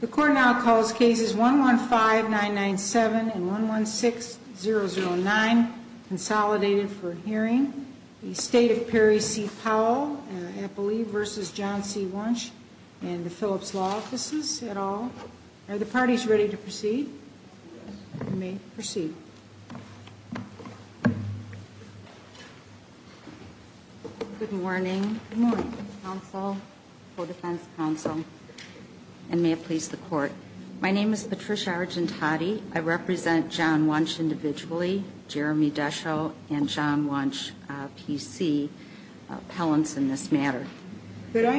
The court now calls cases 115-997 and 116-009, Consolidated for Hearing, the State of Perry C. Powell, I believe, v. John C. Wunsch, and the Phillips Law Offices et al. Are the parties ready to proceed? You may proceed. Good morning. Good morning, counsel, co-defense counsel, and may it please the court. My name is Patricia Argentati. I represent John Wunsch individually, Jeremy Deschaux, and John Wunsch, P.C., appellants in this matter. Could I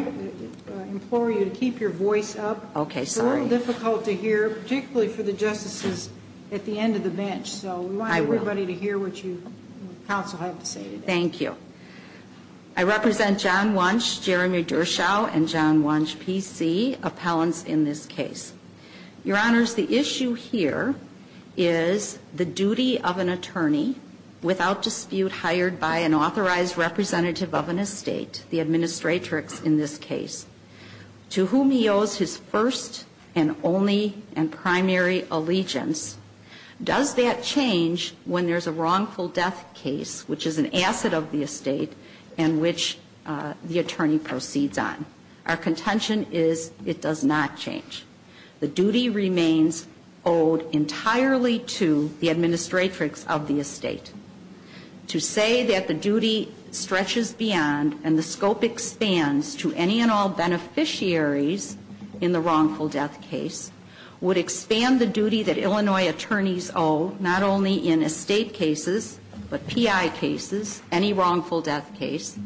implore you to keep your voice up? Okay, sorry. It's a little difficult to hear, particularly for the justices at the end of the bench. I will. So we want everybody to hear what you, counsel, have to say today. Thank you. I represent John Wunsch, Jeremy Deschaux, and John Wunsch, P.C., appellants in this case. Your Honors, the issue here is the duty of an attorney without dispute hired by an authorized representative of an estate, the administratrix in this case, to whom he owes his first and only and primary allegiance. Does that change when there's a wrongful death case, which is an asset of the estate and which the attorney proceeds on? Our contention is it does not change. The duty remains owed entirely to the administratrix of the estate. To say that the duty stretches beyond and the scope expands to any and all of an estate, the administratrix of the estate, and the other officiaries in the wrongful death case would expand the duty that Illinois attorneys owe not only in estate cases, but P.I. cases, any wrongful death case,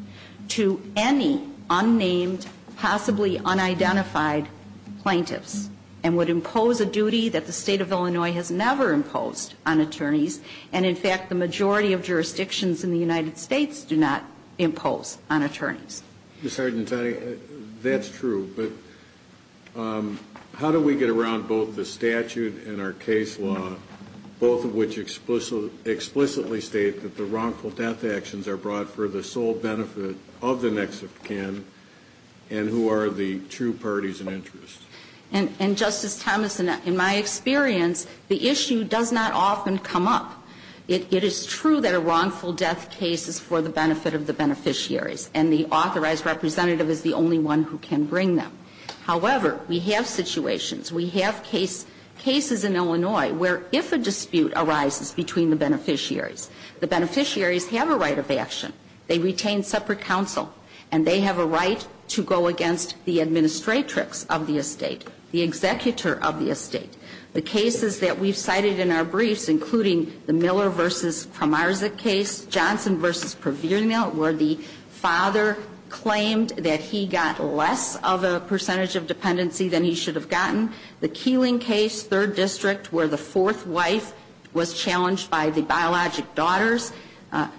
to any unnamed, possibly unidentified plaintiffs, and would impose a duty that the State of Illinois has never imposed on attorneys. And, in fact, the majority of jurisdictions in the United States do not impose on attorneys. Ms. Hardintoni, that's true. But how do we get around both the statute and our case both of which explicitly state that the wrongful death actions are brought for the sole benefit of the next of kin, and who are the true parties and interests? And, Justice Thomas, in my experience, the issue does not often come up. It is true that a wrongful death case is for the benefit of the beneficiaries, and the authorized representative is the only one who can bring them. However, we have situations, we have cases in Illinois where, if a dispute arises between the beneficiaries, the beneficiaries have a right of action. They retain separate counsel, and they have a right to go against the administratrix of the estate, the executor of the estate. The cases that we've cited in our briefs, including the Miller v. Kramarczyk case, Johnson v. Pervino, where the father claimed that he got less of a percentage of dependency than he should have gotten. The Keeling case, 3rd District, where the fourth wife was challenged by the biologic daughters.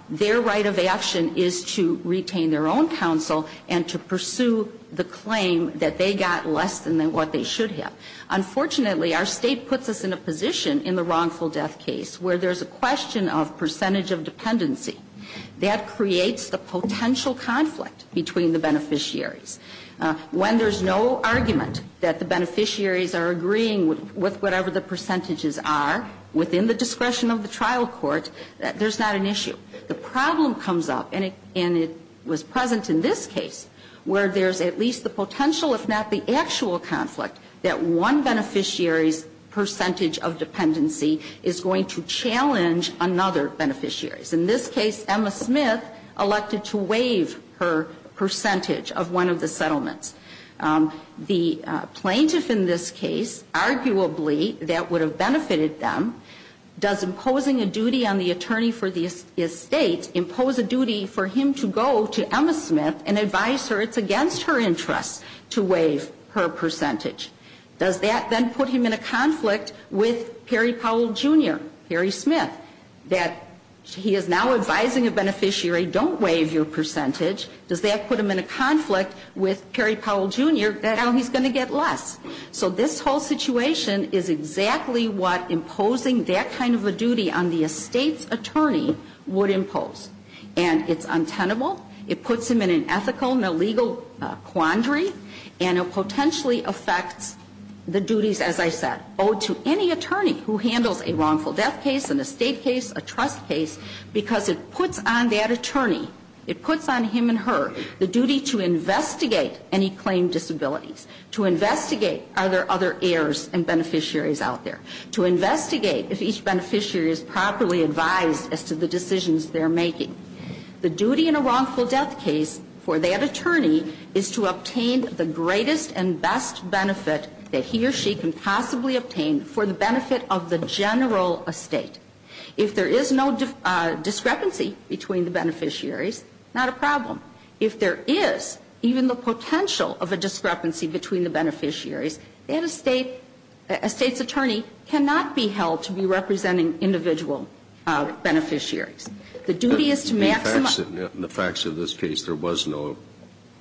Their right of action is to retain their own counsel and to pursue the claim that they got less than what they should have. Unfortunately, our state puts us in a position in the wrongful death case where there's a question of percentage of dependency. That creates the potential conflict between the beneficiaries, that the beneficiaries are agreeing with whatever the percentages are within the discretion of the trial court, that there's not an issue. The problem comes up, and it was present in this case, where there's at least the potential, if not the actual conflict, that one beneficiary's percentage of dependency is going to challenge another beneficiary. In this case, Emma Smith elected to waive her percentage of one of the settlements. The plaintiff in this case, arguably, that would have benefited them. Does imposing a duty on the attorney for the estate impose a duty for him to go to Emma Smith and advise her it's against her interests to waive her percentage? Does that then put him in a conflict with Perry Powell, Jr., Perry Smith, that he is now advising a beneficiary, don't waive your percentage? Does that put him in a conflict with Perry Powell, Jr., that now he's going to get less? So this whole situation is exactly what imposing that kind of a duty on the estate's attorney would impose. And it's untenable. It puts him in an ethical and a legal quandary, and it potentially affects the duties, as I said, owed to any attorney who handles a wrongful death case, an estate case, a trust case, because it puts on that attorney, it puts on him and her the duty to investigate any claim disabilities, to investigate are there other heirs and beneficiaries out there, to investigate if each beneficiary is properly advised as to the decisions they're making. The duty in a wrongful death case for that attorney is to obtain the greatest and best benefit that he or she can possibly obtain for the benefit of the general estate. If there is no discrepancy between the beneficiaries, not a problem. If there is even the potential of a discrepancy between the beneficiaries, then a state's attorney cannot be held to be representing individual beneficiaries. The duty is to maximize the benefits of the beneficiary. In the facts of this case, there was no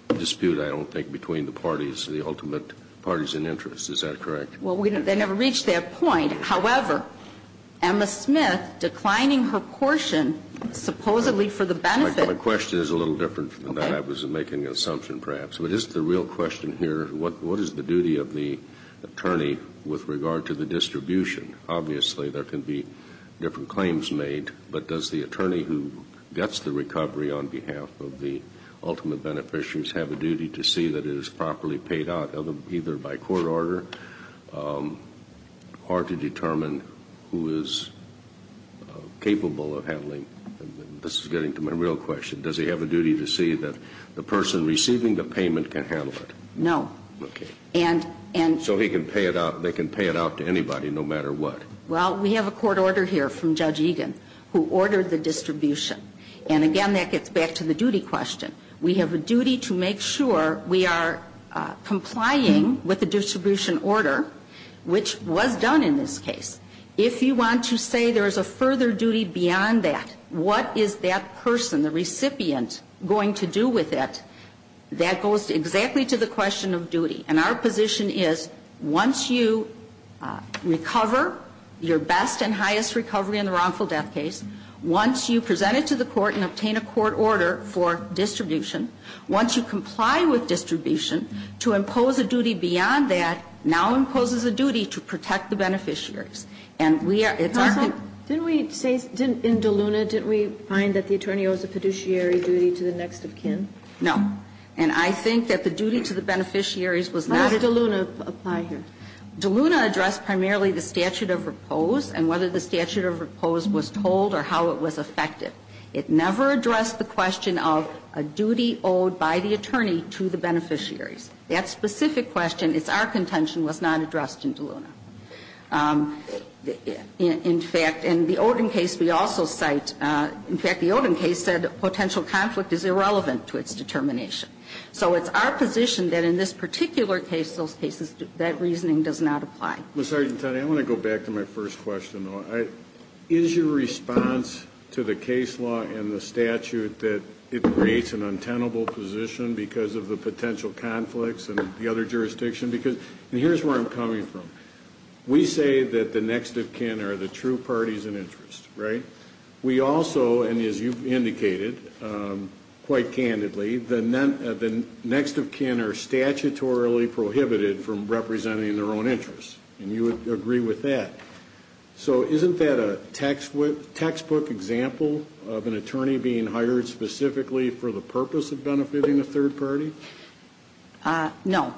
dispute, I don't think, between the parties, the ultimate parties in interest. Is that correct? Well, they never reached that point. However, Emma Smith, declining her portion supposedly for the benefit. My question is a little different from that. I was making an assumption, perhaps. But just the real question here, what is the duty of the attorney with regard to the distribution? Obviously, there can be different claims made, but does the attorney who gets the recovery on behalf of the ultimate beneficiaries have a duty to see that it is properly paid out, either by court order or to determine who is capable of handling? This is getting to my real question. Does he have a duty to see that the person receiving the payment can handle it? No. Okay. And, and So he can pay it out, they can pay it out to anybody, no matter what. Well, we have a court order here from Judge Egan who ordered the distribution. And again, that gets back to the duty question. We have a duty to make sure we are complying with the distribution order, which was done in this case. If you want to say there is a further duty beyond that, what is that person, the recipient, going to do with it, that goes exactly to the question of duty. And our position is, once you recover your best and highest recovery in the wrongful death case, once you present it to the court and obtain a court order for distribution, once you comply with distribution, to impose a duty beyond that now imposes a duty to protect the beneficiaries. And we are, it's our Counsel, didn't we say, in DeLuna, didn't we find that the attorney owes a fiduciary duty to the next of kin? No. And I think that the duty to the beneficiaries was not How does DeLuna apply here? DeLuna addressed primarily the statute of repose and whether the statute of repose was told or how it was affected. It never addressed the question of a duty owed by the attorney to the beneficiaries. That specific question, it's our contention, was not addressed in DeLuna. In fact, in the Oden case, we also cite, in fact, the Oden case said potential conflict is irrelevant to its determination. So it's our position that in this particular case, those cases, that reasoning does not apply. Well, Sgt. Toney, I want to go back to my first question, though. Is your response to the case law and the statute that it creates an untenable position because of the potential conflicts and the other jurisdiction? Because, and here's where I'm coming from. We say that the next of kin are the true parties in interest, right? We also, and as you've indicated, quite candidly, the next of kin are statutorily prohibited from representing their own interests. And you would agree with that. So isn't that a textbook example of an attorney being hired specifically for the purpose of benefiting a third party? No.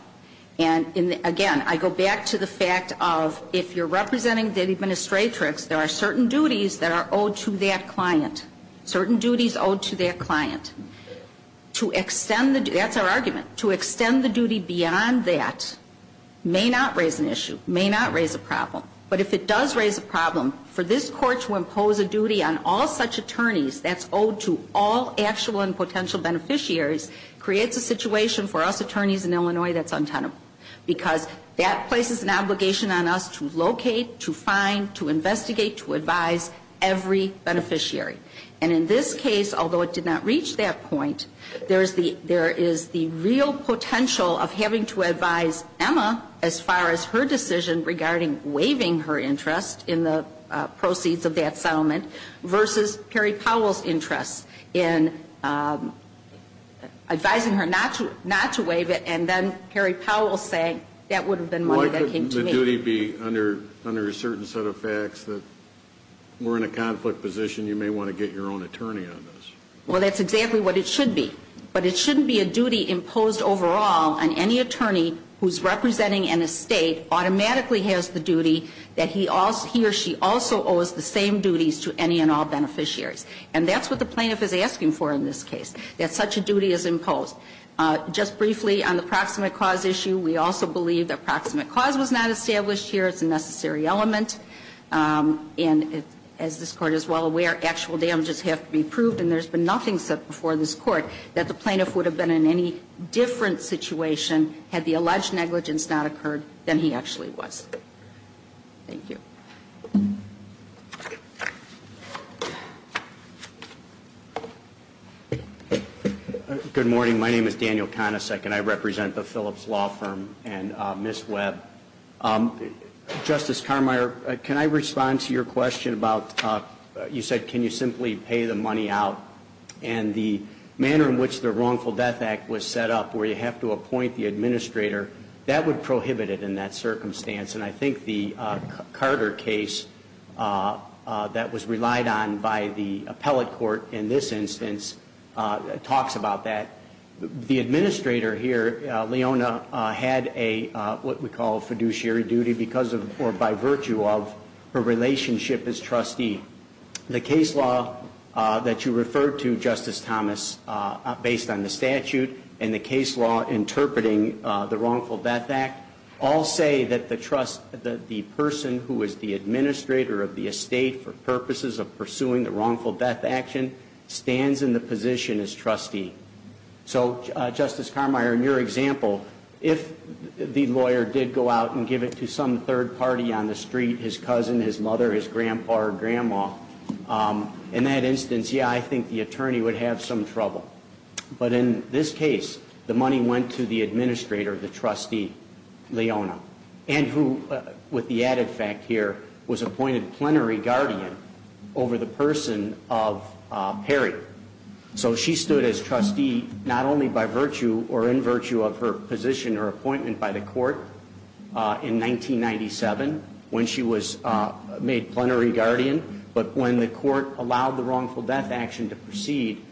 And again, I go back to the fact of if you're representing the administratrix, there are certain duties that are owed to that client. Certain duties owed to that client. To extend the, that's our argument, to extend the duty beyond that may not raise an issue, may not raise a problem. But if it does raise a problem, for this court to impose a duty on all such attorneys that's owed to all actual and potential beneficiaries creates a situation for us attorneys in Illinois that's untenable. Because that places an obligation on us to locate, to find, to investigate, to advise every beneficiary. And in this case, although it did not reach that point, there is the real potential of having to advise Emma as far as her decision regarding waiving her interest in the proceeds of that settlement versus Perry Powell's interest in advising her not to waive it and then Perry Powell saying that would have been money that came to me. Why could the duty be under a certain set of facts that we're in a conflict position, and you may want to get your own attorney on this? Well, that's exactly what it should be. But it shouldn't be a duty imposed overall on any attorney who's representing an estate automatically has the duty that he or she also owes the same duties to any and all beneficiaries. And that's what the plaintiff is asking for in this case, that such a duty is imposed. Just briefly on the proximate cause issue, we also believe that proximate cause was not established here. It's a necessary element. And as this Court is well aware, actual damages have to be proved. And there's been nothing said before this Court that the plaintiff would have been in any different situation had the alleged negligence not occurred than he actually was. Thank you. Good morning. My name is Daniel Konacek, and I represent the Phillips Law Firm and Ms. Webb. Justice Carmeier, can I respond to your question about, you said, can you simply pay the money out? And the manner in which the Wrongful Death Act was set up, where you have to appoint the administrator, that would prohibit it in that circumstance. And I think the Carter case that was relied on by the appellate court in this instance talks about that. The administrator here, Leona, had a, what we call a fiduciary duty because of, or by virtue of, her relationship as trustee. The case law that you referred to, Justice Thomas, based on the statute, and the case law interpreting the Wrongful Death Act, all say that the trust, that the person who is the administrator of the estate for purposes of pursuing the Wrongful Death Action, stands in the position as trustee. So, Justice Carmeier, in your example, if the lawyer did go out and give it to some third party on the street, his cousin, his mother, his grandpa or grandma, in that instance, yeah, I think the attorney would have some trouble. But in this case, the money went to the administrator, the trustee, Leona. And who, with the added fact here, was appointed plenary guardian over the person of Perry. So she stood as trustee not only by virtue or in virtue of her position or appointment by the court in 1997, when she was made plenary guardian, but when the court allowed the Wrongful Death Action to proceed,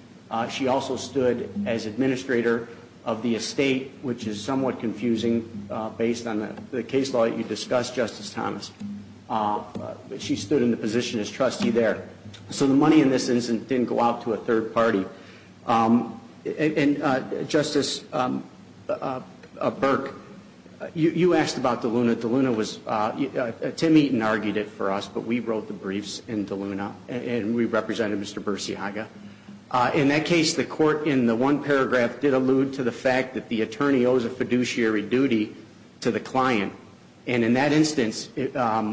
she also stood as administrator of the estate, which is somewhat confusing, based on the case law that you discussed, Justice Thomas. She stood in the position as trustee there. So the money in this instance didn't go out to a third party. And Justice Burke, you asked about DeLuna. DeLuna was, Tim Eaton argued it for us, but we wrote the briefs in DeLuna, and we represented Mr. Bursiaga. In that case, the court, in the one paragraph, did allude to the fact that the attorney owes a fiduciary duty to the client. And in that instance, if I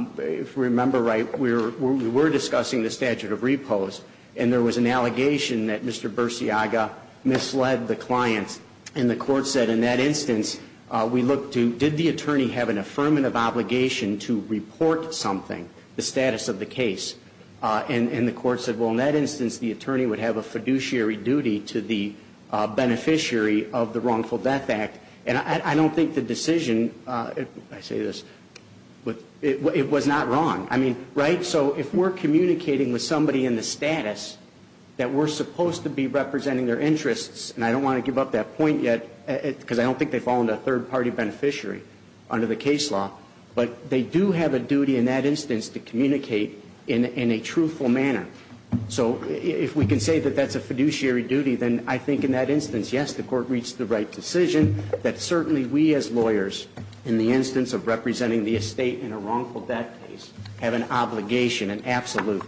remember right, we were discussing the statute of repose, and there was an allegation that Mr. Bursiaga misled the client. And the court said, in that instance, we looked to, did the attorney have an affirmative obligation to report something, the status of the case? And the court said, well, in that instance, the attorney would have a fiduciary duty to the beneficiary of the Wrongful Death Act. And I don't think the decision, I say this, it was not wrong. I mean, right? So if we're communicating with somebody in the status that we're supposed to be representing their interests, and I don't want to give up that point yet, because I don't think they fall into a third party beneficiary under the case law, but they do have a duty in that instance to communicate in a truthful manner. So if we can say that that's a fiduciary duty, then I think in that instance, yes, the court reached the right decision, that certainly we as lawyers, in the instance of representing the estate in a wrongful death case, have an obligation, an absolute,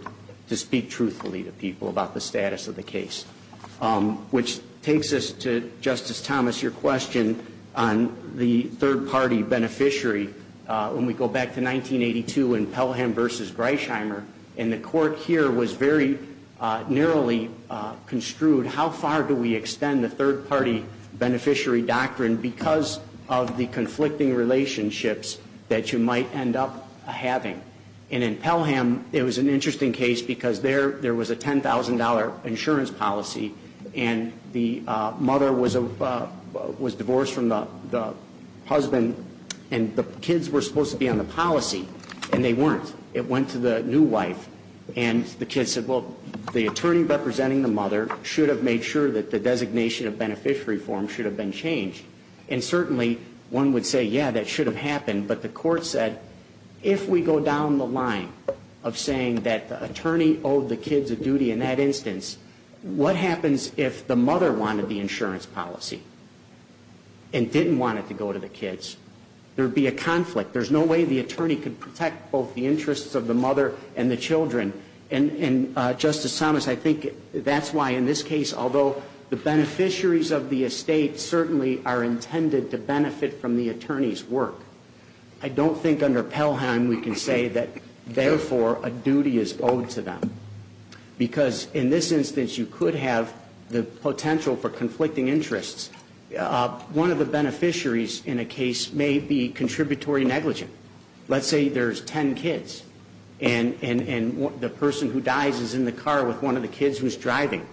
to speak truthfully to people about the status of the case. Which takes us to, Justice Thomas, your question on the third party beneficiary. When we go back to 1982 in Pelham v. Greichheimer, and the court here was very narrowly construed, how far do we extend the third party beneficiary doctrine because of the conflicting relationships that you might end up having? And in Pelham, it was an interesting case because there was a $10,000 insurance policy, and the mother was divorced from the husband, and the kids were supposed to be on the policy, and they weren't. It went to the new wife, and the kids said, well, the attorney representing the mother should have made sure that the designation of beneficiary form should have been changed. And certainly, one would say, yeah, that should have happened, but the court said, if we go down the line of saying that the attorney owed the kids a duty in that instance, what happens if the mother wanted the insurance policy and didn't want it to go to the kids? There'd be a conflict. There's no way the attorney could protect both the interests of the mother and the children. And Justice Thomas, I think that's why in this case, although the beneficiaries of the estate certainly are intended to benefit from the attorney's work, I don't think under Pelham we can say that, therefore, a duty is owed to them. Because in this instance, you could have the potential for conflicting interests. One of the beneficiaries in a case may be contributory negligent. Let's say there's ten kids, and the person who dies is in the car with one of the kids who's driving.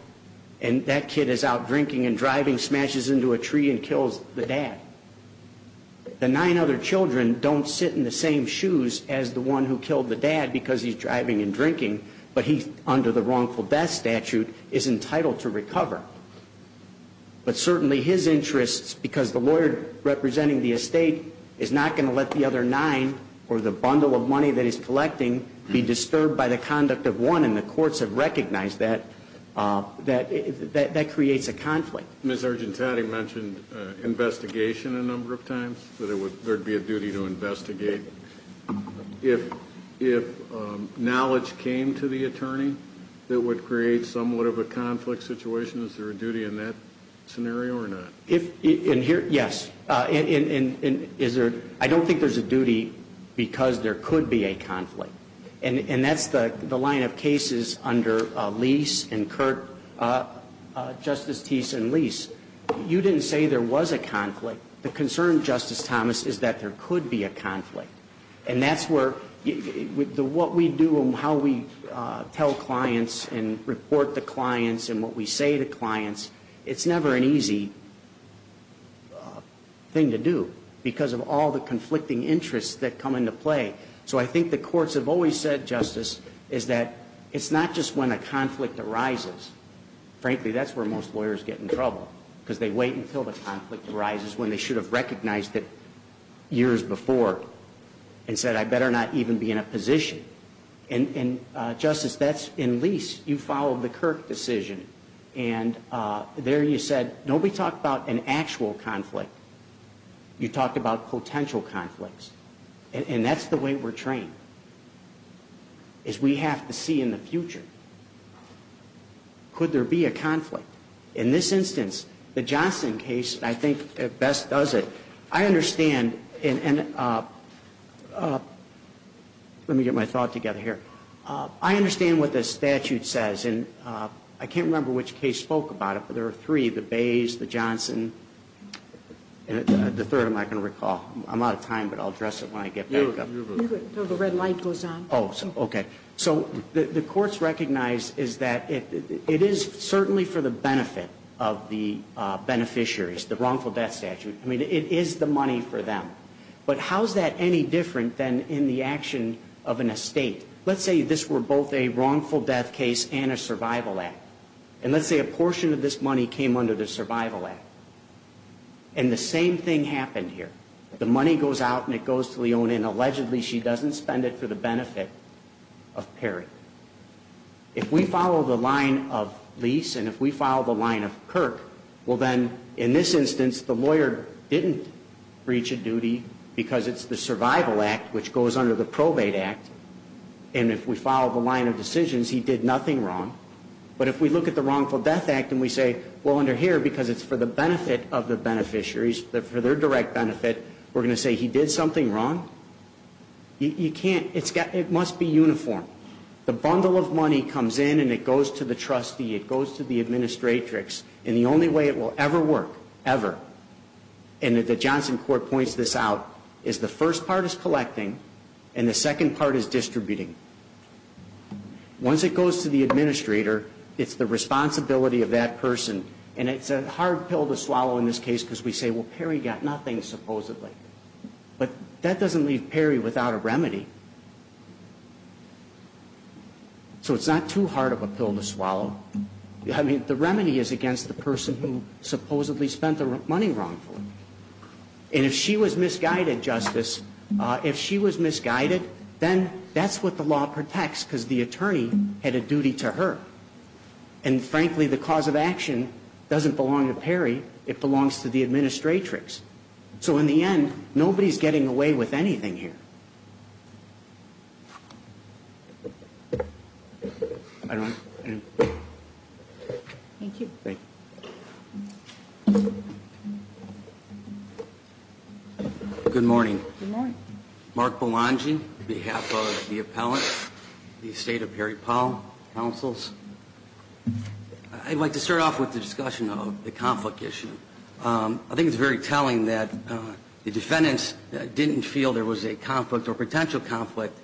And that kid is out drinking and driving, smashes into a tree and kills the dad. The nine other children don't sit in the same shoes as the one who killed the dad because he's driving and drinking, but he, under the wrongful death statute, is entitled to recover. But certainly his interests, because the lawyer representing the estate is not going to let the other nine or the bundle of money that he's collecting be disturbed by the conduct of one, and the courts have recognized that, that creates a conflict. Ms. Argentati mentioned investigation a number of times, that there would be a duty to investigate. If knowledge came to the attorney that would create somewhat of a conflict situation, is there a duty in that scenario or not? Yes. I don't think there's a duty because there could be a conflict. And that's the line of cases under Lease and Kurt, Justice Teese and Lease. You didn't say there was a conflict. The concern, Justice Thomas, is that there could be a conflict. And that's where, what we do and how we tell clients and report to clients and what we say to clients, it's never an easy thing to do because of all the conflicting interests that come into play. So I think the courts have always said, Justice, is that it's not just when a conflict arises. Frankly, that's where most lawyers get in trouble, because they wait until the conflict arises when they should have recognized it years before and said, I better not even be in a position. And Justice, that's in Lease, you followed the Kurt decision. And there you said, nobody talked about an actual conflict. You talked about potential conflicts. And that's the way we're trained, is we have to see in the future. Could there be a conflict? In this instance, the Johnson case, I think, best does it. I understand, and let me get my thought together here. I understand what the statute says, and I can't remember which case spoke about it, but there are three, the Bays, the Johnson, and the third I'm not going to recall. I'm out of time, but I'll address it when I get back up. You're good. The red light goes on. Oh, okay. So the courts recognize is that it is certainly for the benefit of the beneficiaries, the wrongful death statute. I mean, it is the money for them. But how is that any different than in the action of an estate? Let's say this were both a wrongful death case and a survival act. And let's say a portion of this money came under the survival act. And the same thing happened here. The money goes out and it goes to Leona, and allegedly she doesn't spend it for the benefit of Perry. If we follow the line of Leese and if we follow the line of Kirk, well then, in this instance, the lawyer didn't breach a duty because it's the survival act which goes under the probate act. And if we follow the line of decisions, he did nothing wrong. But if we look at the wrongful death act and we say, well, under here, because it's for the benefit of the beneficiaries, for their direct benefit, we're doing something wrong. You can't, it's got, it must be uniform. The bundle of money comes in and it goes to the trustee, it goes to the administratrix, and the only way it will ever work, ever, and the Johnson court points this out, is the first part is collecting and the second part is distributing. Once it goes to the administrator, it's the responsibility of that person. And it's a hard pill to swallow in this case because we say, well, Perry got nothing, supposedly. But that doesn't leave Perry without a remedy. So it's not too hard of a pill to swallow. I mean, the remedy is against the person who supposedly spent the money wrongfully. And if she was misguided, Justice, if she was misguided, then that's what the law protects because the attorney had a duty to her. And frankly, the cause of action doesn't belong to Perry, it belongs to the administratrix. So in the end, nobody's getting away with anything here. I don't, I don't. Thank you. Thank you. Good morning. Good morning. Mark Belonging, on behalf of the appellant, the estate of Perry Powell, counsels. I'd like to start off with the discussion of the conflict issue. I think it's very telling that the defendants didn't feel there was a conflict or potential conflict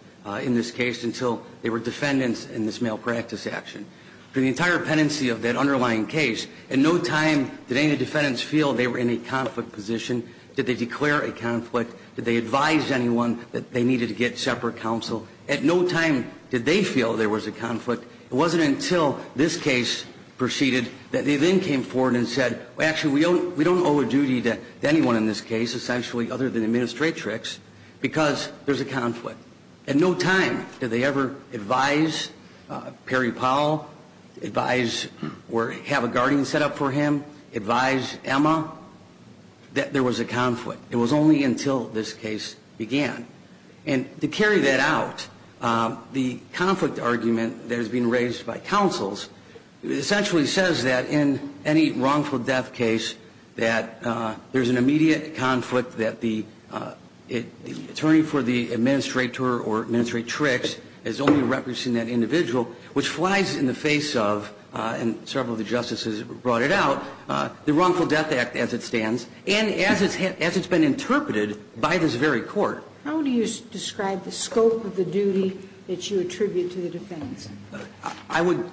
in this case until they were defendants in this malpractice action. For the entire pendency of that underlying case, at no time did any of the defendants feel they were in a conflict position. Did they declare a conflict? Did they advise anyone that they needed to get separate counsel? At no time did they feel there was a conflict. It wasn't until this case proceeded that they then came forward and said, well, actually, we don't owe a duty to anyone in this case, essentially, other than the administratrix, because there's a conflict. At no time did they ever advise Perry Powell, advise or have a guardian set up for him, advise Emma that there was a conflict. It was only until this case began. And to carry that out, the conflict argument that has been raised by counsels essentially says that in any wrongful death case that there's an immediate conflict that the attorney for the administrator or administratrix is only representing that individual, which flies in the face of, and several of the justices brought it out, the Wrongful Death Act as it stands, and as it's been interpreted by this very Court. How do you describe the scope of the duty that you attribute to the defendants? I would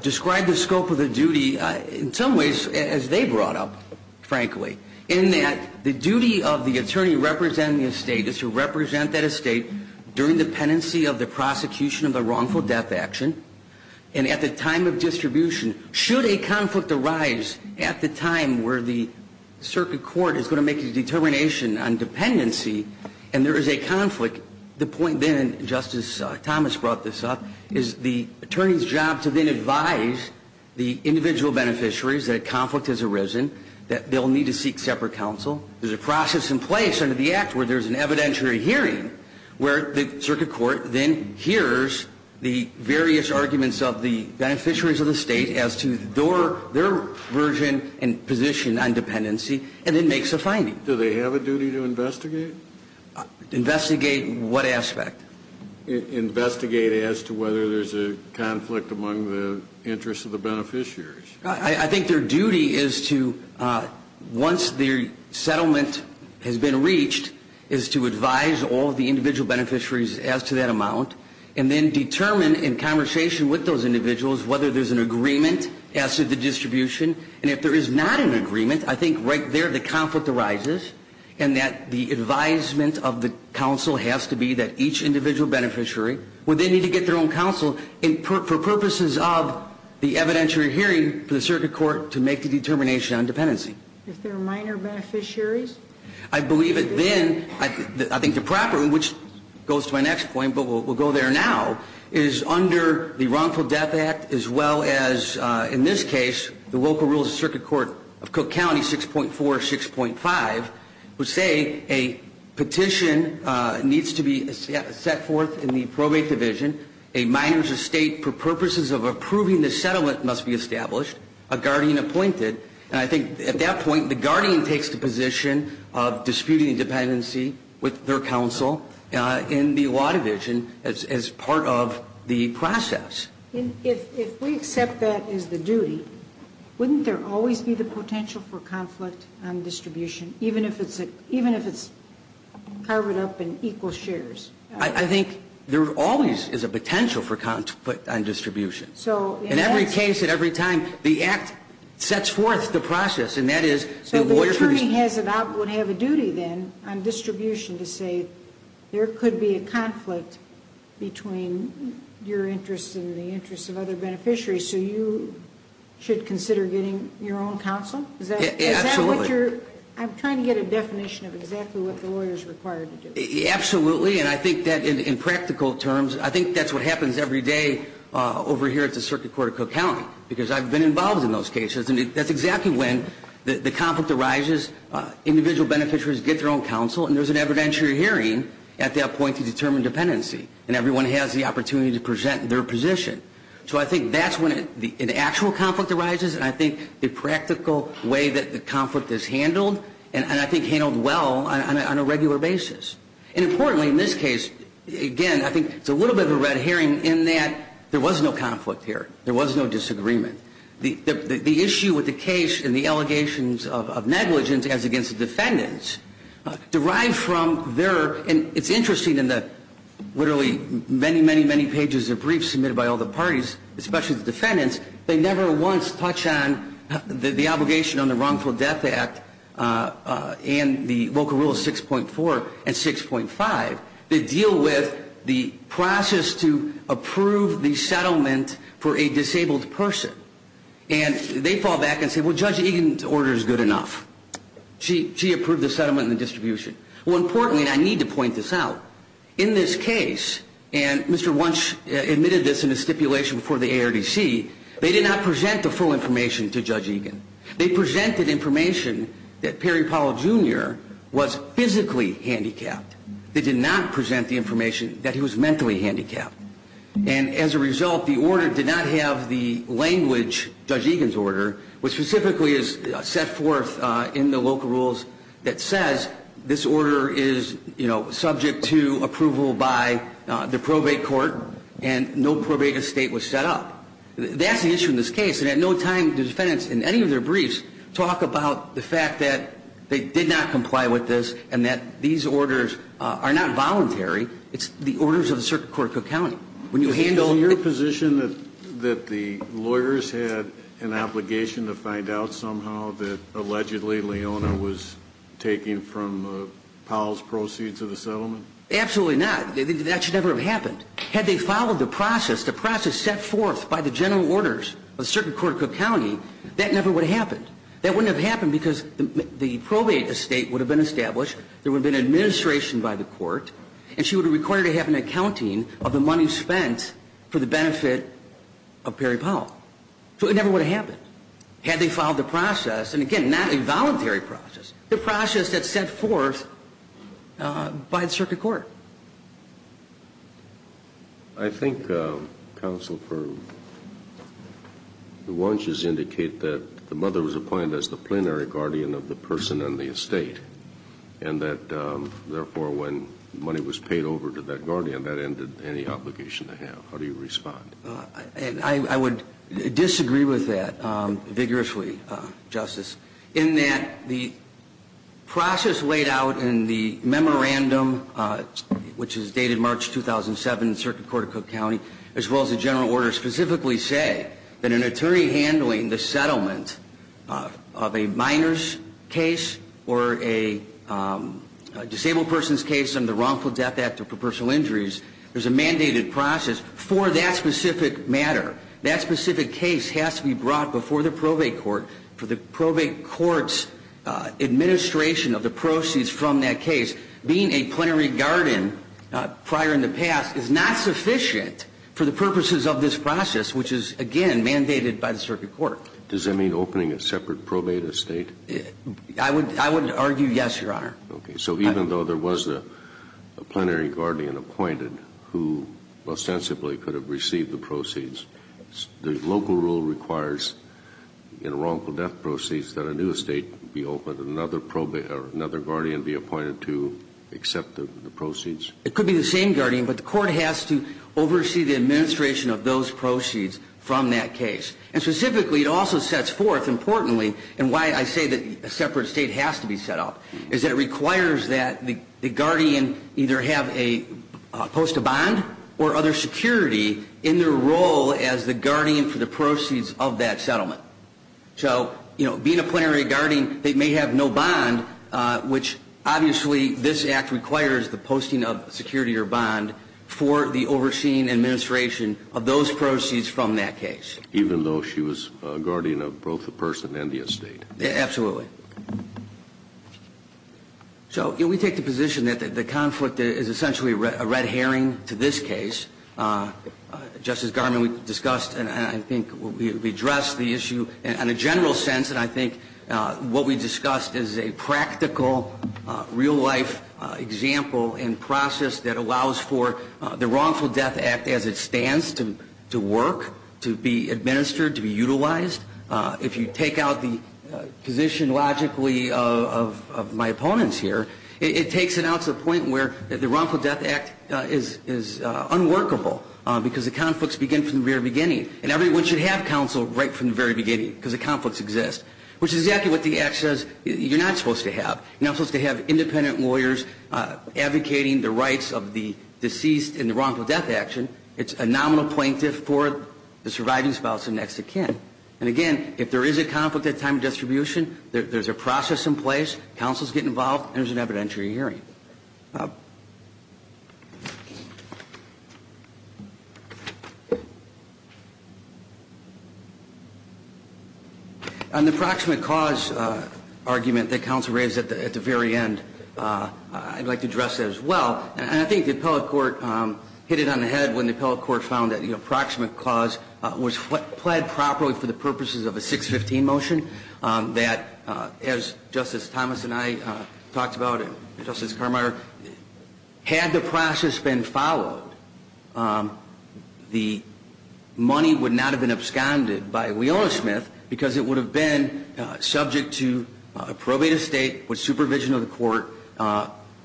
describe the scope of the duty in some ways as they brought up, frankly, in that the duty of the attorney representing the estate is to represent that estate during the penancy of the prosecution of a wrongful death action, and at the time should a conflict arise at the time where the circuit court is going to make a determination on dependency, and there is a conflict, the point then, and Justice Thomas brought this up, is the attorney's job to then advise the individual beneficiaries that a conflict has arisen, that they'll need to seek separate counsel. There's a process in place under the Act where there's an evidentiary hearing where the circuit court then hears the various arguments of the beneficiaries of the state as to their version and position on dependency, and then makes a finding. Do they have a duty to investigate? Investigate what aspect? Investigate as to whether there's a conflict among the interests of the beneficiaries. I think their duty is to, once their settlement has been reached, is to advise all the individual beneficiaries as to that amount, and then determine in conversation with those individuals whether there's an agreement as to the distribution, and if there is not an agreement, I think right there the conflict arises, and that the advisement of the counsel has to be that each individual beneficiary, when they need to get their own counsel, for purposes of the evidentiary hearing for the circuit court to make the determination on dependency. Is there minor beneficiaries? I believe it then, I think the problem, which goes to my next point, but we'll go there now, is under the Wrongful Death Act, as well as in this case, the local rules of circuit court of Cook County 6.4, 6.5, would say a petition needs to be set forth in the probate division, a minor's estate for purposes of approving the settlement must be established, a guardian appointed, and I think at that point the guardian takes the position of disputing dependency with their counsel in the lot division as part of the process. If we accept that as the duty, wouldn't there always be the potential for conflict on distribution, even if it's carved up in equal shares? I think there always is a potential for conflict on distribution. In every case and every time the act sets forth the process, and that is the lawyer should be... So the attorney would have a duty then on distribution to say there could be a conflict between your interests and the interests of other beneficiaries, so you should consider getting your own counsel? Absolutely. Is that what you're, I'm trying to get a definition of exactly what the lawyer is required to do. Absolutely, and I think that in practical terms, I think that's what happens every day over here at the Circuit Court of Cook County, because I've been involved in those cases and that's exactly when the conflict arises, individual beneficiaries get their own counsel, and there's an evidentiary hearing at that point to determine dependency, and everyone has the opportunity to present their position. So I think that's when an actual conflict arises, and I think the practical way that the conflict is handled, and I think handled well on a regular basis. And importantly in this case, again, I think it's a little bit of a red herring in that there was no conflict here, there was no disagreement. The issue with the case and the allegations of negligence as against the defendants, derived from their, and it's interesting in the literally many, many, many pages of briefs submitted by all the parties, especially the defendants, they never once touch on the obligation on the Wrongful Death Act and the Volcker Rule 6.4 and 6.5 that deal with the process to approve the settlement for a disabled person. And they fall back and say, well, Judge Egan's order is good enough. She approved the settlement and the distribution. Well, importantly, and I need to point this out, in this case, and Mr. Wunsch admitted this in his stipulation before the ARDC, they did not present the full information to that Perry Powell Jr. was physically handicapped. They did not present the information that he was mentally handicapped. And as a result, the order did not have the language, Judge Egan's order, which specifically is set forth in the Volcker Rules that says this order is, you know, subject to approval by the probate court, and no probate estate was set up. That's the issue in this case, and at no time did the defendants in any of their the fact that they did not comply with this and that these orders are not voluntary. It's the orders of the Circuit Court of Cook County. When you handle... Is it your position that the lawyers had an obligation to find out somehow that allegedly Leona was taking from Powell's proceeds of the settlement? Absolutely not. That should never have happened. Had they followed the process, the process set forth by the general orders of the Circuit Court of Cook County, that never would have happened. That wouldn't have happened because the probate estate would have been established, there would have been an administration by the court, and she would have required to have an accounting of the money spent for the benefit of Perry Powell. So it never would have happened. Had they followed the process, and again, not a voluntary process, the process that's set forth by the Circuit Court. I think, Counsel, the wunches indicate that the mother was appointed as the plenary guardian of the person and the estate, and that therefore when money was paid over to that guardian, that ended any obligation to have. How do you respond? I would disagree with that vigorously, Justice, in that the process laid out in the which is dated March 2007 in the Circuit Court of Cook County, as well as the general orders specifically say that an attorney handling the settlement of a minor's case or a disabled person's case under the Wrongful Death Act for Personal Injuries, there's a mandated process for that specific matter. That specific case has to be brought before the probate court for the probate court's administration of the proceeds from that case. Being a plenary guardian prior in the past is not sufficient for the purposes of this process, which is, again, mandated by the Circuit Court. Does that mean opening a separate probate estate? I would argue yes, Your Honor. Okay. So even though there was a plenary guardian appointed who ostensibly could have received the proceeds, the local rule requires in wrongful death proceeds that a new estate be opened and another guardian be appointed to accept the proceeds? It could be the same guardian, but the court has to oversee the administration of those proceeds from that case. And specifically, it also sets forth, importantly, and why I say that a separate estate has to be set up, is that it requires that the guardian either have a post of bond or other security in their role as the guardian for the proceeds of that settlement. So, you know, being a plenary guardian, they may have no bond, which obviously this Act requires the posting of security or bond for the overseeing administration of those proceeds from that case. Even though she was a guardian of both the person and the estate? Absolutely. So we take the position that the conflict is essentially a red herring to this case. Justice Garmon, we discussed and I think we addressed the issue in a general sense, and I think what we discussed is a practical, real-life example and process that allows for the Wrongful Death Act as it stands to work, to be administered, to be utilized. If you take out the position logically of my opponents here, it takes it to the point where the Wrongful Death Act is unworkable because the conflicts begin from the very beginning. And everyone should have counsel right from the very beginning because the conflicts exist, which is exactly what the Act says you're not supposed to have. You're not supposed to have independent lawyers advocating the rights of the deceased in the Wrongful Death Action. It's a nominal plaintiff for the surviving spouse and next of kin. And again, if there is a conflict at time of distribution, there's a process in place, counsels get involved, and there's an evidentiary hearing. On the proximate cause argument that counsel raised at the very end, I'd like to address that as well. And I think the appellate court hit it on the head when the appellate court found that the approximate cause was pled properly for the purposes of a 615 motion that, as Justice Thomas and I talked about, and Justice Carminer, had the process been followed, the money would not have been absconded by Wiona Smith because it would have been subject to a probate estate with supervision of the court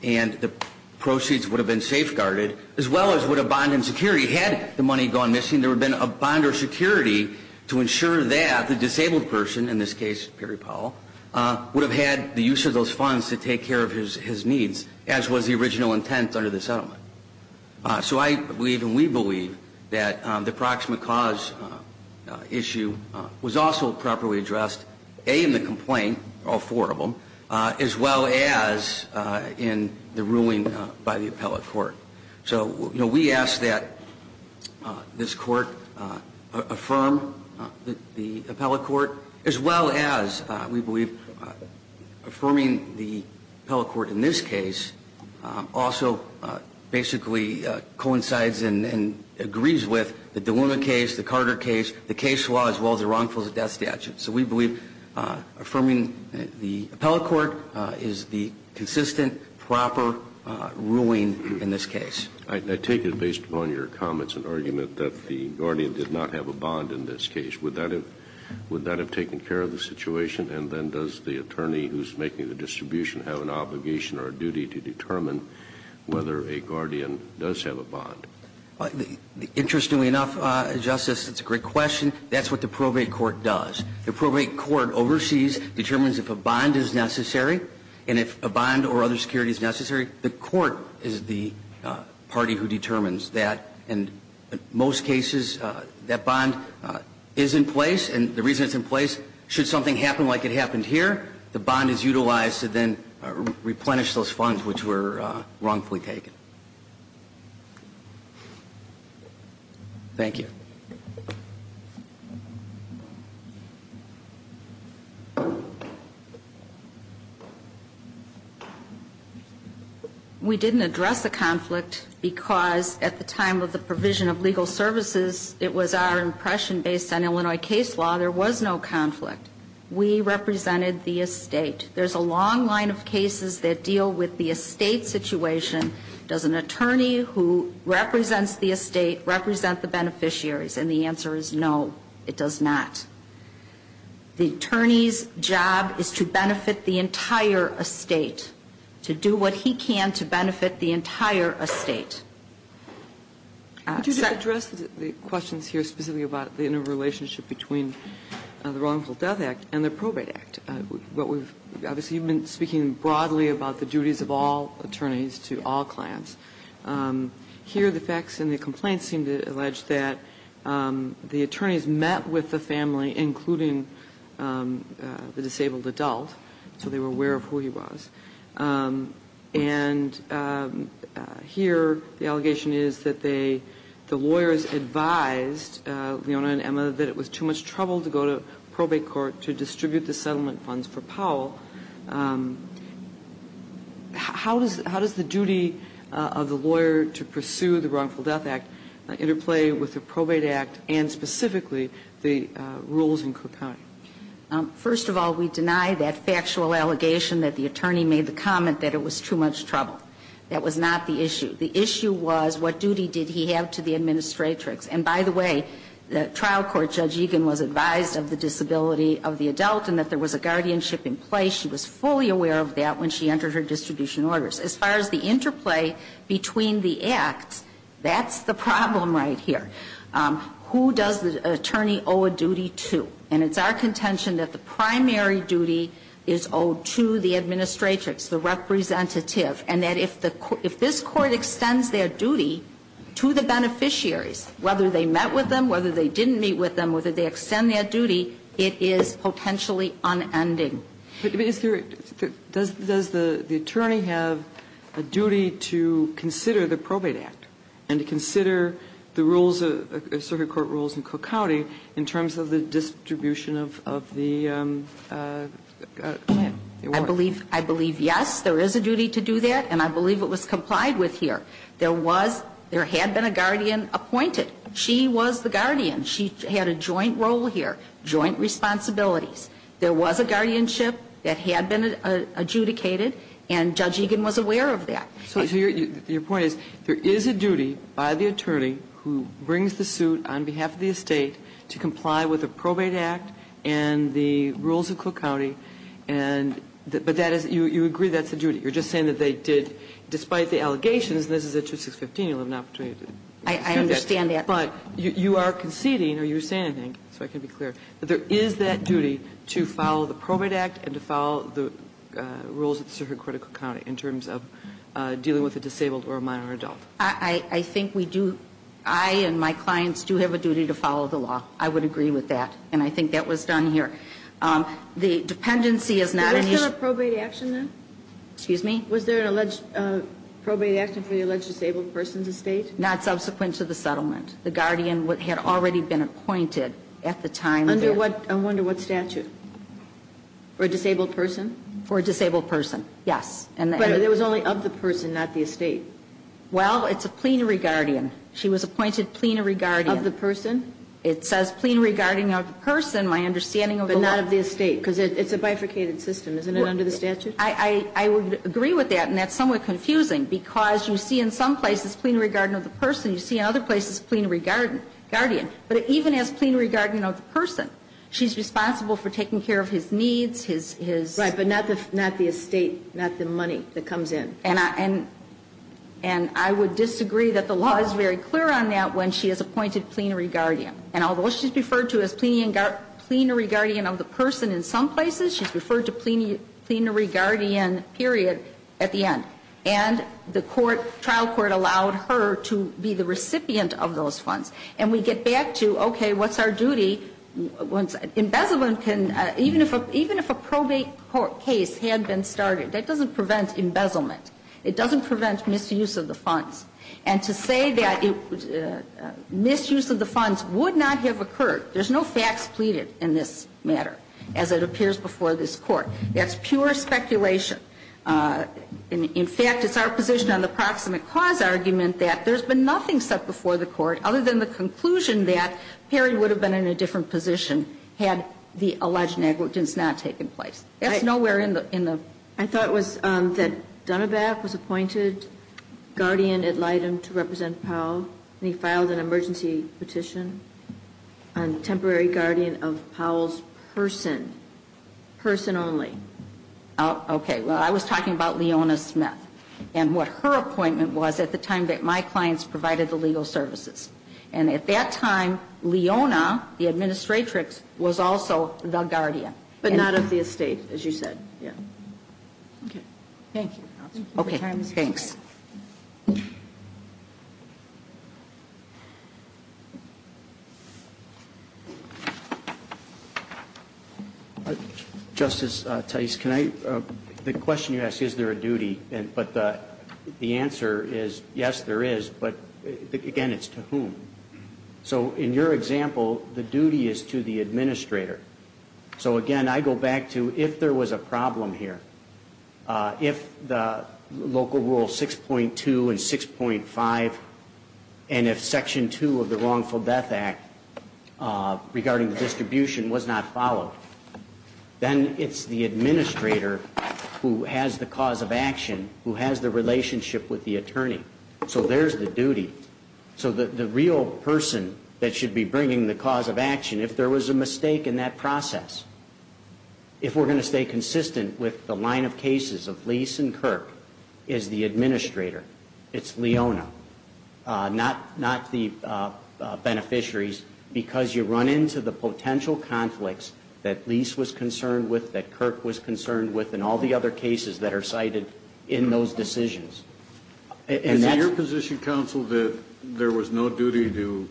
and the proceeds would have been safeguarded, as well as would have bonded security. Had the money gone missing, there would have been a problem. And I think the appellate court, in this case Perry Powell, would have had the use of those funds to take care of his needs, as was the original intent under the settlement. So I believe, and we believe, that the proximate cause issue was also properly addressed, A, in the complaint, all four of them, as well as in the ruling by the appellate court. So, you know, we ask that this court affirm the We believe affirming the appellate court in this case also basically coincides and agrees with the Dillema case, the Carter case, the case law, as well as the wrongful death statute. So we believe affirming the appellate court is the consistent, proper ruling in this case. I take it, based upon your comments and argument, that the guardian did not have a bond in this case. Would that have taken care of the situation? And then does the attorney who's making the distribution have an obligation or a duty to determine whether a guardian does have a bond? Interestingly enough, Justice, that's a great question. That's what the probate court does. The probate court oversees, determines if a bond is necessary, and if a bond or other security is necessary, the court is the party who determines that. And in most cases, that bond is in place. And the reason it's in place, should something happen like it happened here, the bond is utilized to then replenish those funds which were wrongfully taken. Thank you. We didn't address the conflict because, at the time of the provision of legal services, it was our impression, based on Illinois case law, there was no conflict. We represented the estate. There's a long line of cases that deal with the estate situation. Does an attorney who represents the estate represent the beneficiaries? And does the attorney's job is to benefit the entire estate? And the answer is no, it does not. The attorney's job is to benefit the entire estate, to do what he can to benefit the entire estate. Could you address the questions here specifically about the interrelationship between the Wrongful Death Act and the Probate Act? What we've been speaking broadly about the duties of all attorneys to all clients. Here, the facts in the complaint seem to allege that the attorneys met with the family, including the disabled adult, so they were aware of who he was. And here, the allegation is that they, the lawyers advised Leona and Emma that it was too much trouble to go to probate court to distribute the settlement funds for Powell. How does the of the lawyer to pursue the Wrongful Death Act interplay with the Probate Act and specifically the rules in Cook County? First of all, we deny that factual allegation that the attorney made the comment that it was too much trouble. That was not the issue. The issue was what duty did he have to the administratrix. And by the way, the trial court, Judge Egan was advised of the disability of the adult and that there was a guardianship in place. She was not advised of the disability of the adult. She was not advised of the disability And so the question is, between the acts, that's the problem right here. Who does the attorney owe a duty to? And it's our contention that the primary duty is owed to the administratrix, the representative, and that if the court, if this Court does not have a duty to consider the Probate Act and to consider the rules, circuit court rules in Cook County in terms of the distribution of the claim, the award. I believe, I believe, yes, there is a duty to do that and I believe it was complied with here. There was, there had been a guardian appointed. She was the guardian. She had a joint role here, joint responsibilities. There was a guardianship that had been adjudicated and Judge Egan was aware of that. So your point is, there is a duty by the attorney who brings the suit on behalf of the estate to comply with the Probate Act and the rules of Cook County and, but that is, you agree that's a duty. You're just saying that they did, despite the allegations, and this is at 2615, you'll have an opportunity to discuss that, but you are conceding or you're saying, I think, so I can be clear, that there is that duty to follow the Probate Act and to follow the rules of circuit court in Cook County in terms of dealing with a disabled or a minor adult. I think we do, I and my clients do have a duty to follow the law. I would agree with that and I think that was done here. The dependency is not an issue. Was there a probate action then? Excuse me? Was there an alleged probate action for the alleged disabled person's estate? Not subsequent to the settlement. The guardian had already been appointed at the time. Under what statute? For a disabled person? For a disabled person, yes. But it was only of the person, not the estate. Well, it's a plenary guardian. She was appointed plenary guardian. Of the person? It says plenary guardian of the person, my understanding of the law. But not of the estate, because it's a bifurcated system, isn't it, under the statute? I would agree with that and that's somewhat confusing, because you see in some places it's plenary guardian of the person, you see in other places plenary guardian. But even as plenary guardian of the person, she's responsible for taking care of his needs, his his Right, but not the estate, not the money that comes in. And I would disagree that the law is very clear on that when she is appointed plenary guardian. And although she's referred to as plenary guardian of the person in some places, she's referred to plenary guardian, period, at the end. And the court, trial court, allowed her to be the recipient of those funds. And we get back to, okay, what's our duty? When embezzlement can, even if a, even if a probate court case had been started, that doesn't prevent embezzlement. It doesn't prevent misuse of the funds. And to say that misuse of the funds would not have occurred, there's no facts pleaded in this matter, as it appears before this Court. That's pure speculation. In fact, it's our position on the proximate cause argument that there's been nothing set before the Court other than the conclusion that Perry would have been in a different position had the alleged negligence not taken place. That's nowhere in the I thought it was that Dunnebath was appointed guardian ad litem to represent Powell. And he filed an emergency petition on temporary guardian of Powell's person, person only. Okay. Well, I was talking about Leona Smith and what her appointment was at the time that my clients provided the legal services. And at that time, Leona, the administratrix, was also the guardian. But not of the estate, as you said. Yeah. Okay. Thank you. Okay. Thanks. Justice Tice, can I, the question you asked, is there a duty, but the answer is, yes, there is, but again, it's to whom? So, in your example, the duty is to the administrator. So, again, I go back to, if there was a problem here, if the local rural six-and-a-half 6.2 and 6.5, and if Section 2 of the Wrongful Death Act, regarding the distribution, was not followed, then it's the administrator who has the cause of action, who has the relationship with the attorney. So, there's the duty. So, the real person that should be bringing the cause of action, if there was a mistake in that process, if we're going to stay consistent with the line of cases of Lise and Kirk, is the administrator. It's Leona, not the beneficiaries, because you run into the potential conflicts that Lise was concerned with, that Kirk was concerned with, and all the other cases that are cited in those decisions. Is it your position, counsel, that there was no duty to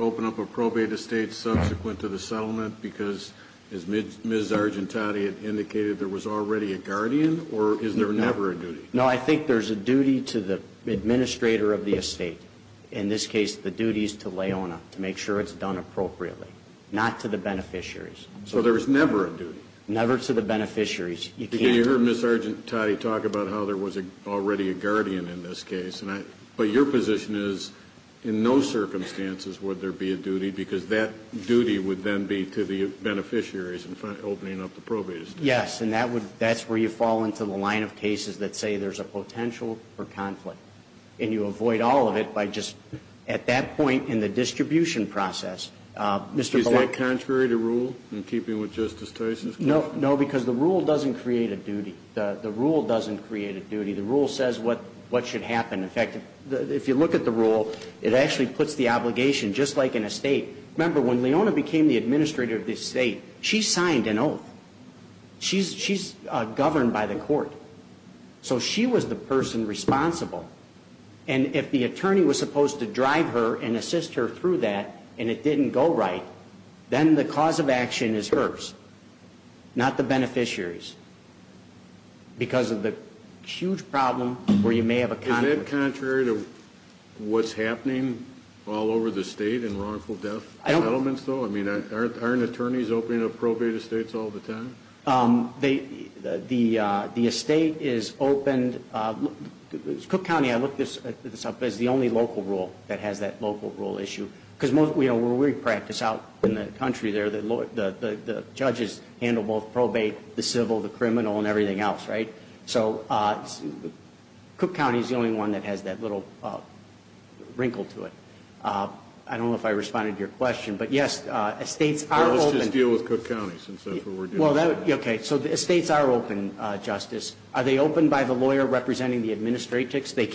open up a probate estate subsequent to the settlement, because, as Ms. Argentati had indicated, there was already a guardian, or is there never a duty? No, I think there's a duty to the administrator of the estate. In this case, the duty is to Leona, to make sure it's done appropriately, not to the beneficiaries. So, there was never a duty? Never to the beneficiaries. You can't... Because you heard Ms. Argentati talk about how there was already a guardian in this case, but your position is, in no circumstances would there be a duty, because that duty would then be to the beneficiaries in opening up the probate estate. Yes, and that's where you fall into the line of cases that say there's a potential for conflict, and you avoid all of it by just, at that point in the distribution process, Mr. Ballard... Is that contrary to rule, in keeping with Justice Tyson's question? No, because the rule doesn't create a duty. The rule doesn't create a duty. The rule says what should happen. In fact, if you look at the rule, it actually puts the obligation, just like an estate... Remember, when Leona became the administrator of the estate, she signed an oath. She's governed by the court. So, she was the person responsible, and if the attorney was supposed to drive her and assist her through that, and it didn't go right, then the cause of action is hers, not the beneficiaries, because of the huge problem where you may have a conflict... Is that contrary to what's happening all over the state in wrongful death settlements, though? I mean, aren't attorneys opening up probate estates all the time? The estate is opened... Cook County, I looked this up, is the only local rule that has that local rule issue, because when we practice out in the country there, the judges handle both probate, the civil, the criminal, and everything else, right? So, Cook County is the only one that has that little wrinkle to it. I don't know if I responded to your question, but yes, estates are open... Let's just deal with Cook County, since that's what we're dealing with. Okay, so estates are open, Justice. Are they open by the lawyer representing the administrator? They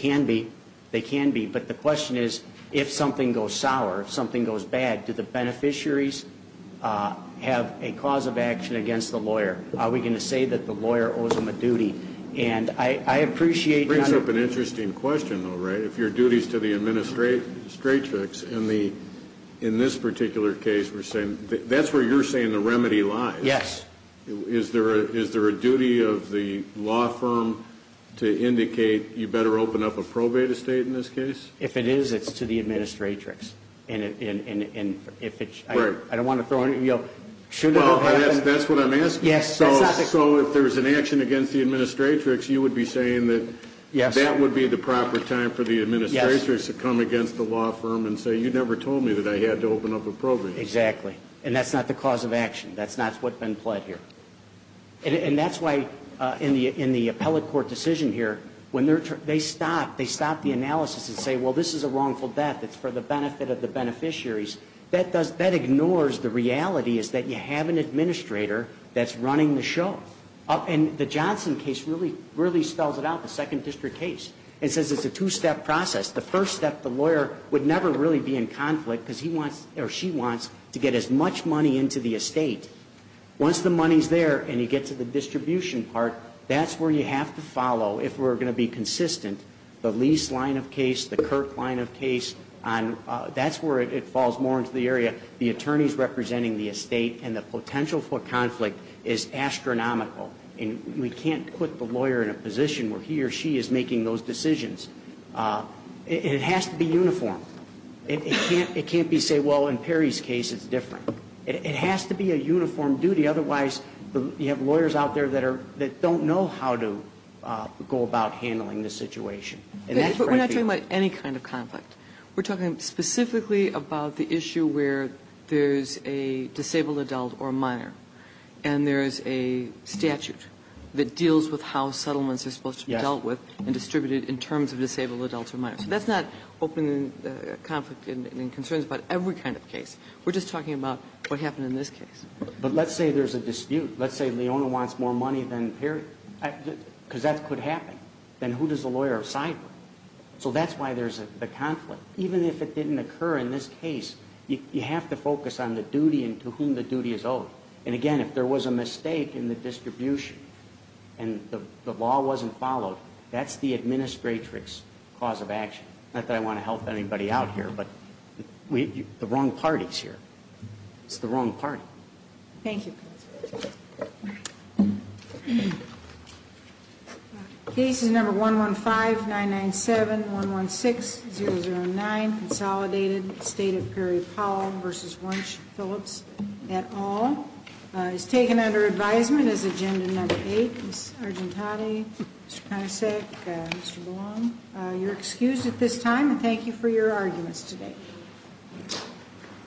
can be. But the question is, if something goes sour, if something goes bad, do the beneficiaries have a cause of action against the lawyer? Are we going to say that the lawyer owes them a duty? And I appreciate... It brings up an interesting question, though, right? If your duty is to the administratrix, in this particular case, we're saying that's where you're saying the remedy lies. Yes. Is there a duty of the law firm to indicate you better open up a probate estate in this case? If it is, it's to the administratrix. And if it's... Right. I don't want to throw any... Well, that's what I'm asking. Yes. So if there's an action against the administratrix, you would be saying that that would be the proper time for the administratrix to come against the law firm and say, you never told me that I had to open up a probate estate. Exactly. And that's not the cause of action. That's not what's been pled here. And that's why, in the appellate court decision here, when they stop, they stop the analysis and say, well, this is a wrongful death. It's for the benefit of the beneficiaries. That ignores the reality is that you have an administrator that's running the show. And the Johnson case really spells it out, the Second District case. It says it's a two-step process. The first step, the lawyer would never really be in conflict because he wants or she wants to get as much money into the estate. Once the money's there and you get to the distribution part, that's where you have to follow, if we're going to be consistent, the Lease line of case, the Kirk line of case, that's where it falls more into the area, the attorneys representing the estate, and the potential for conflict is astronomical. And we can't put the lawyer in a position where he or she is making those decisions. It has to be uniform. It can't be, say, well, in Perry's case, it's different. It has to be a uniform duty. Otherwise, you have lawyers out there that are, that don't know how to go about handling the situation. And that's right there. But we're not talking about any kind of conflict. We're talking specifically about the issue where there's a disabled adult or minor and there is a statute that deals with how settlements are supposed to be dealt with and distributed in terms of disabled adults or minors. So that's not open conflict and concerns about every kind of case. We're just talking about what happened in this case. But let's say there's a dispute. Let's say Leona wants more money than Perry, because that could happen. Then who does the lawyer side with? So that's why there's the conflict. Even if it didn't occur in this case, you have to focus on the duty and to whom the duty is owed. And, again, if there was a mistake in the distribution and the law wasn't followed, that's the administratrix's cause of action. Not that I want to help anybody out here, but the wrong party's here. It's the wrong party. Thank you. Case is number 115-997-116-009, Consolidated, State of Perry-Powell v. Wunsch-Phillips et al. It's taken under advisement as agenda number eight. Ms. Argentati, Mr. Panacek, Mr. Belong, you're excused at this time, and thank you for your arguments today.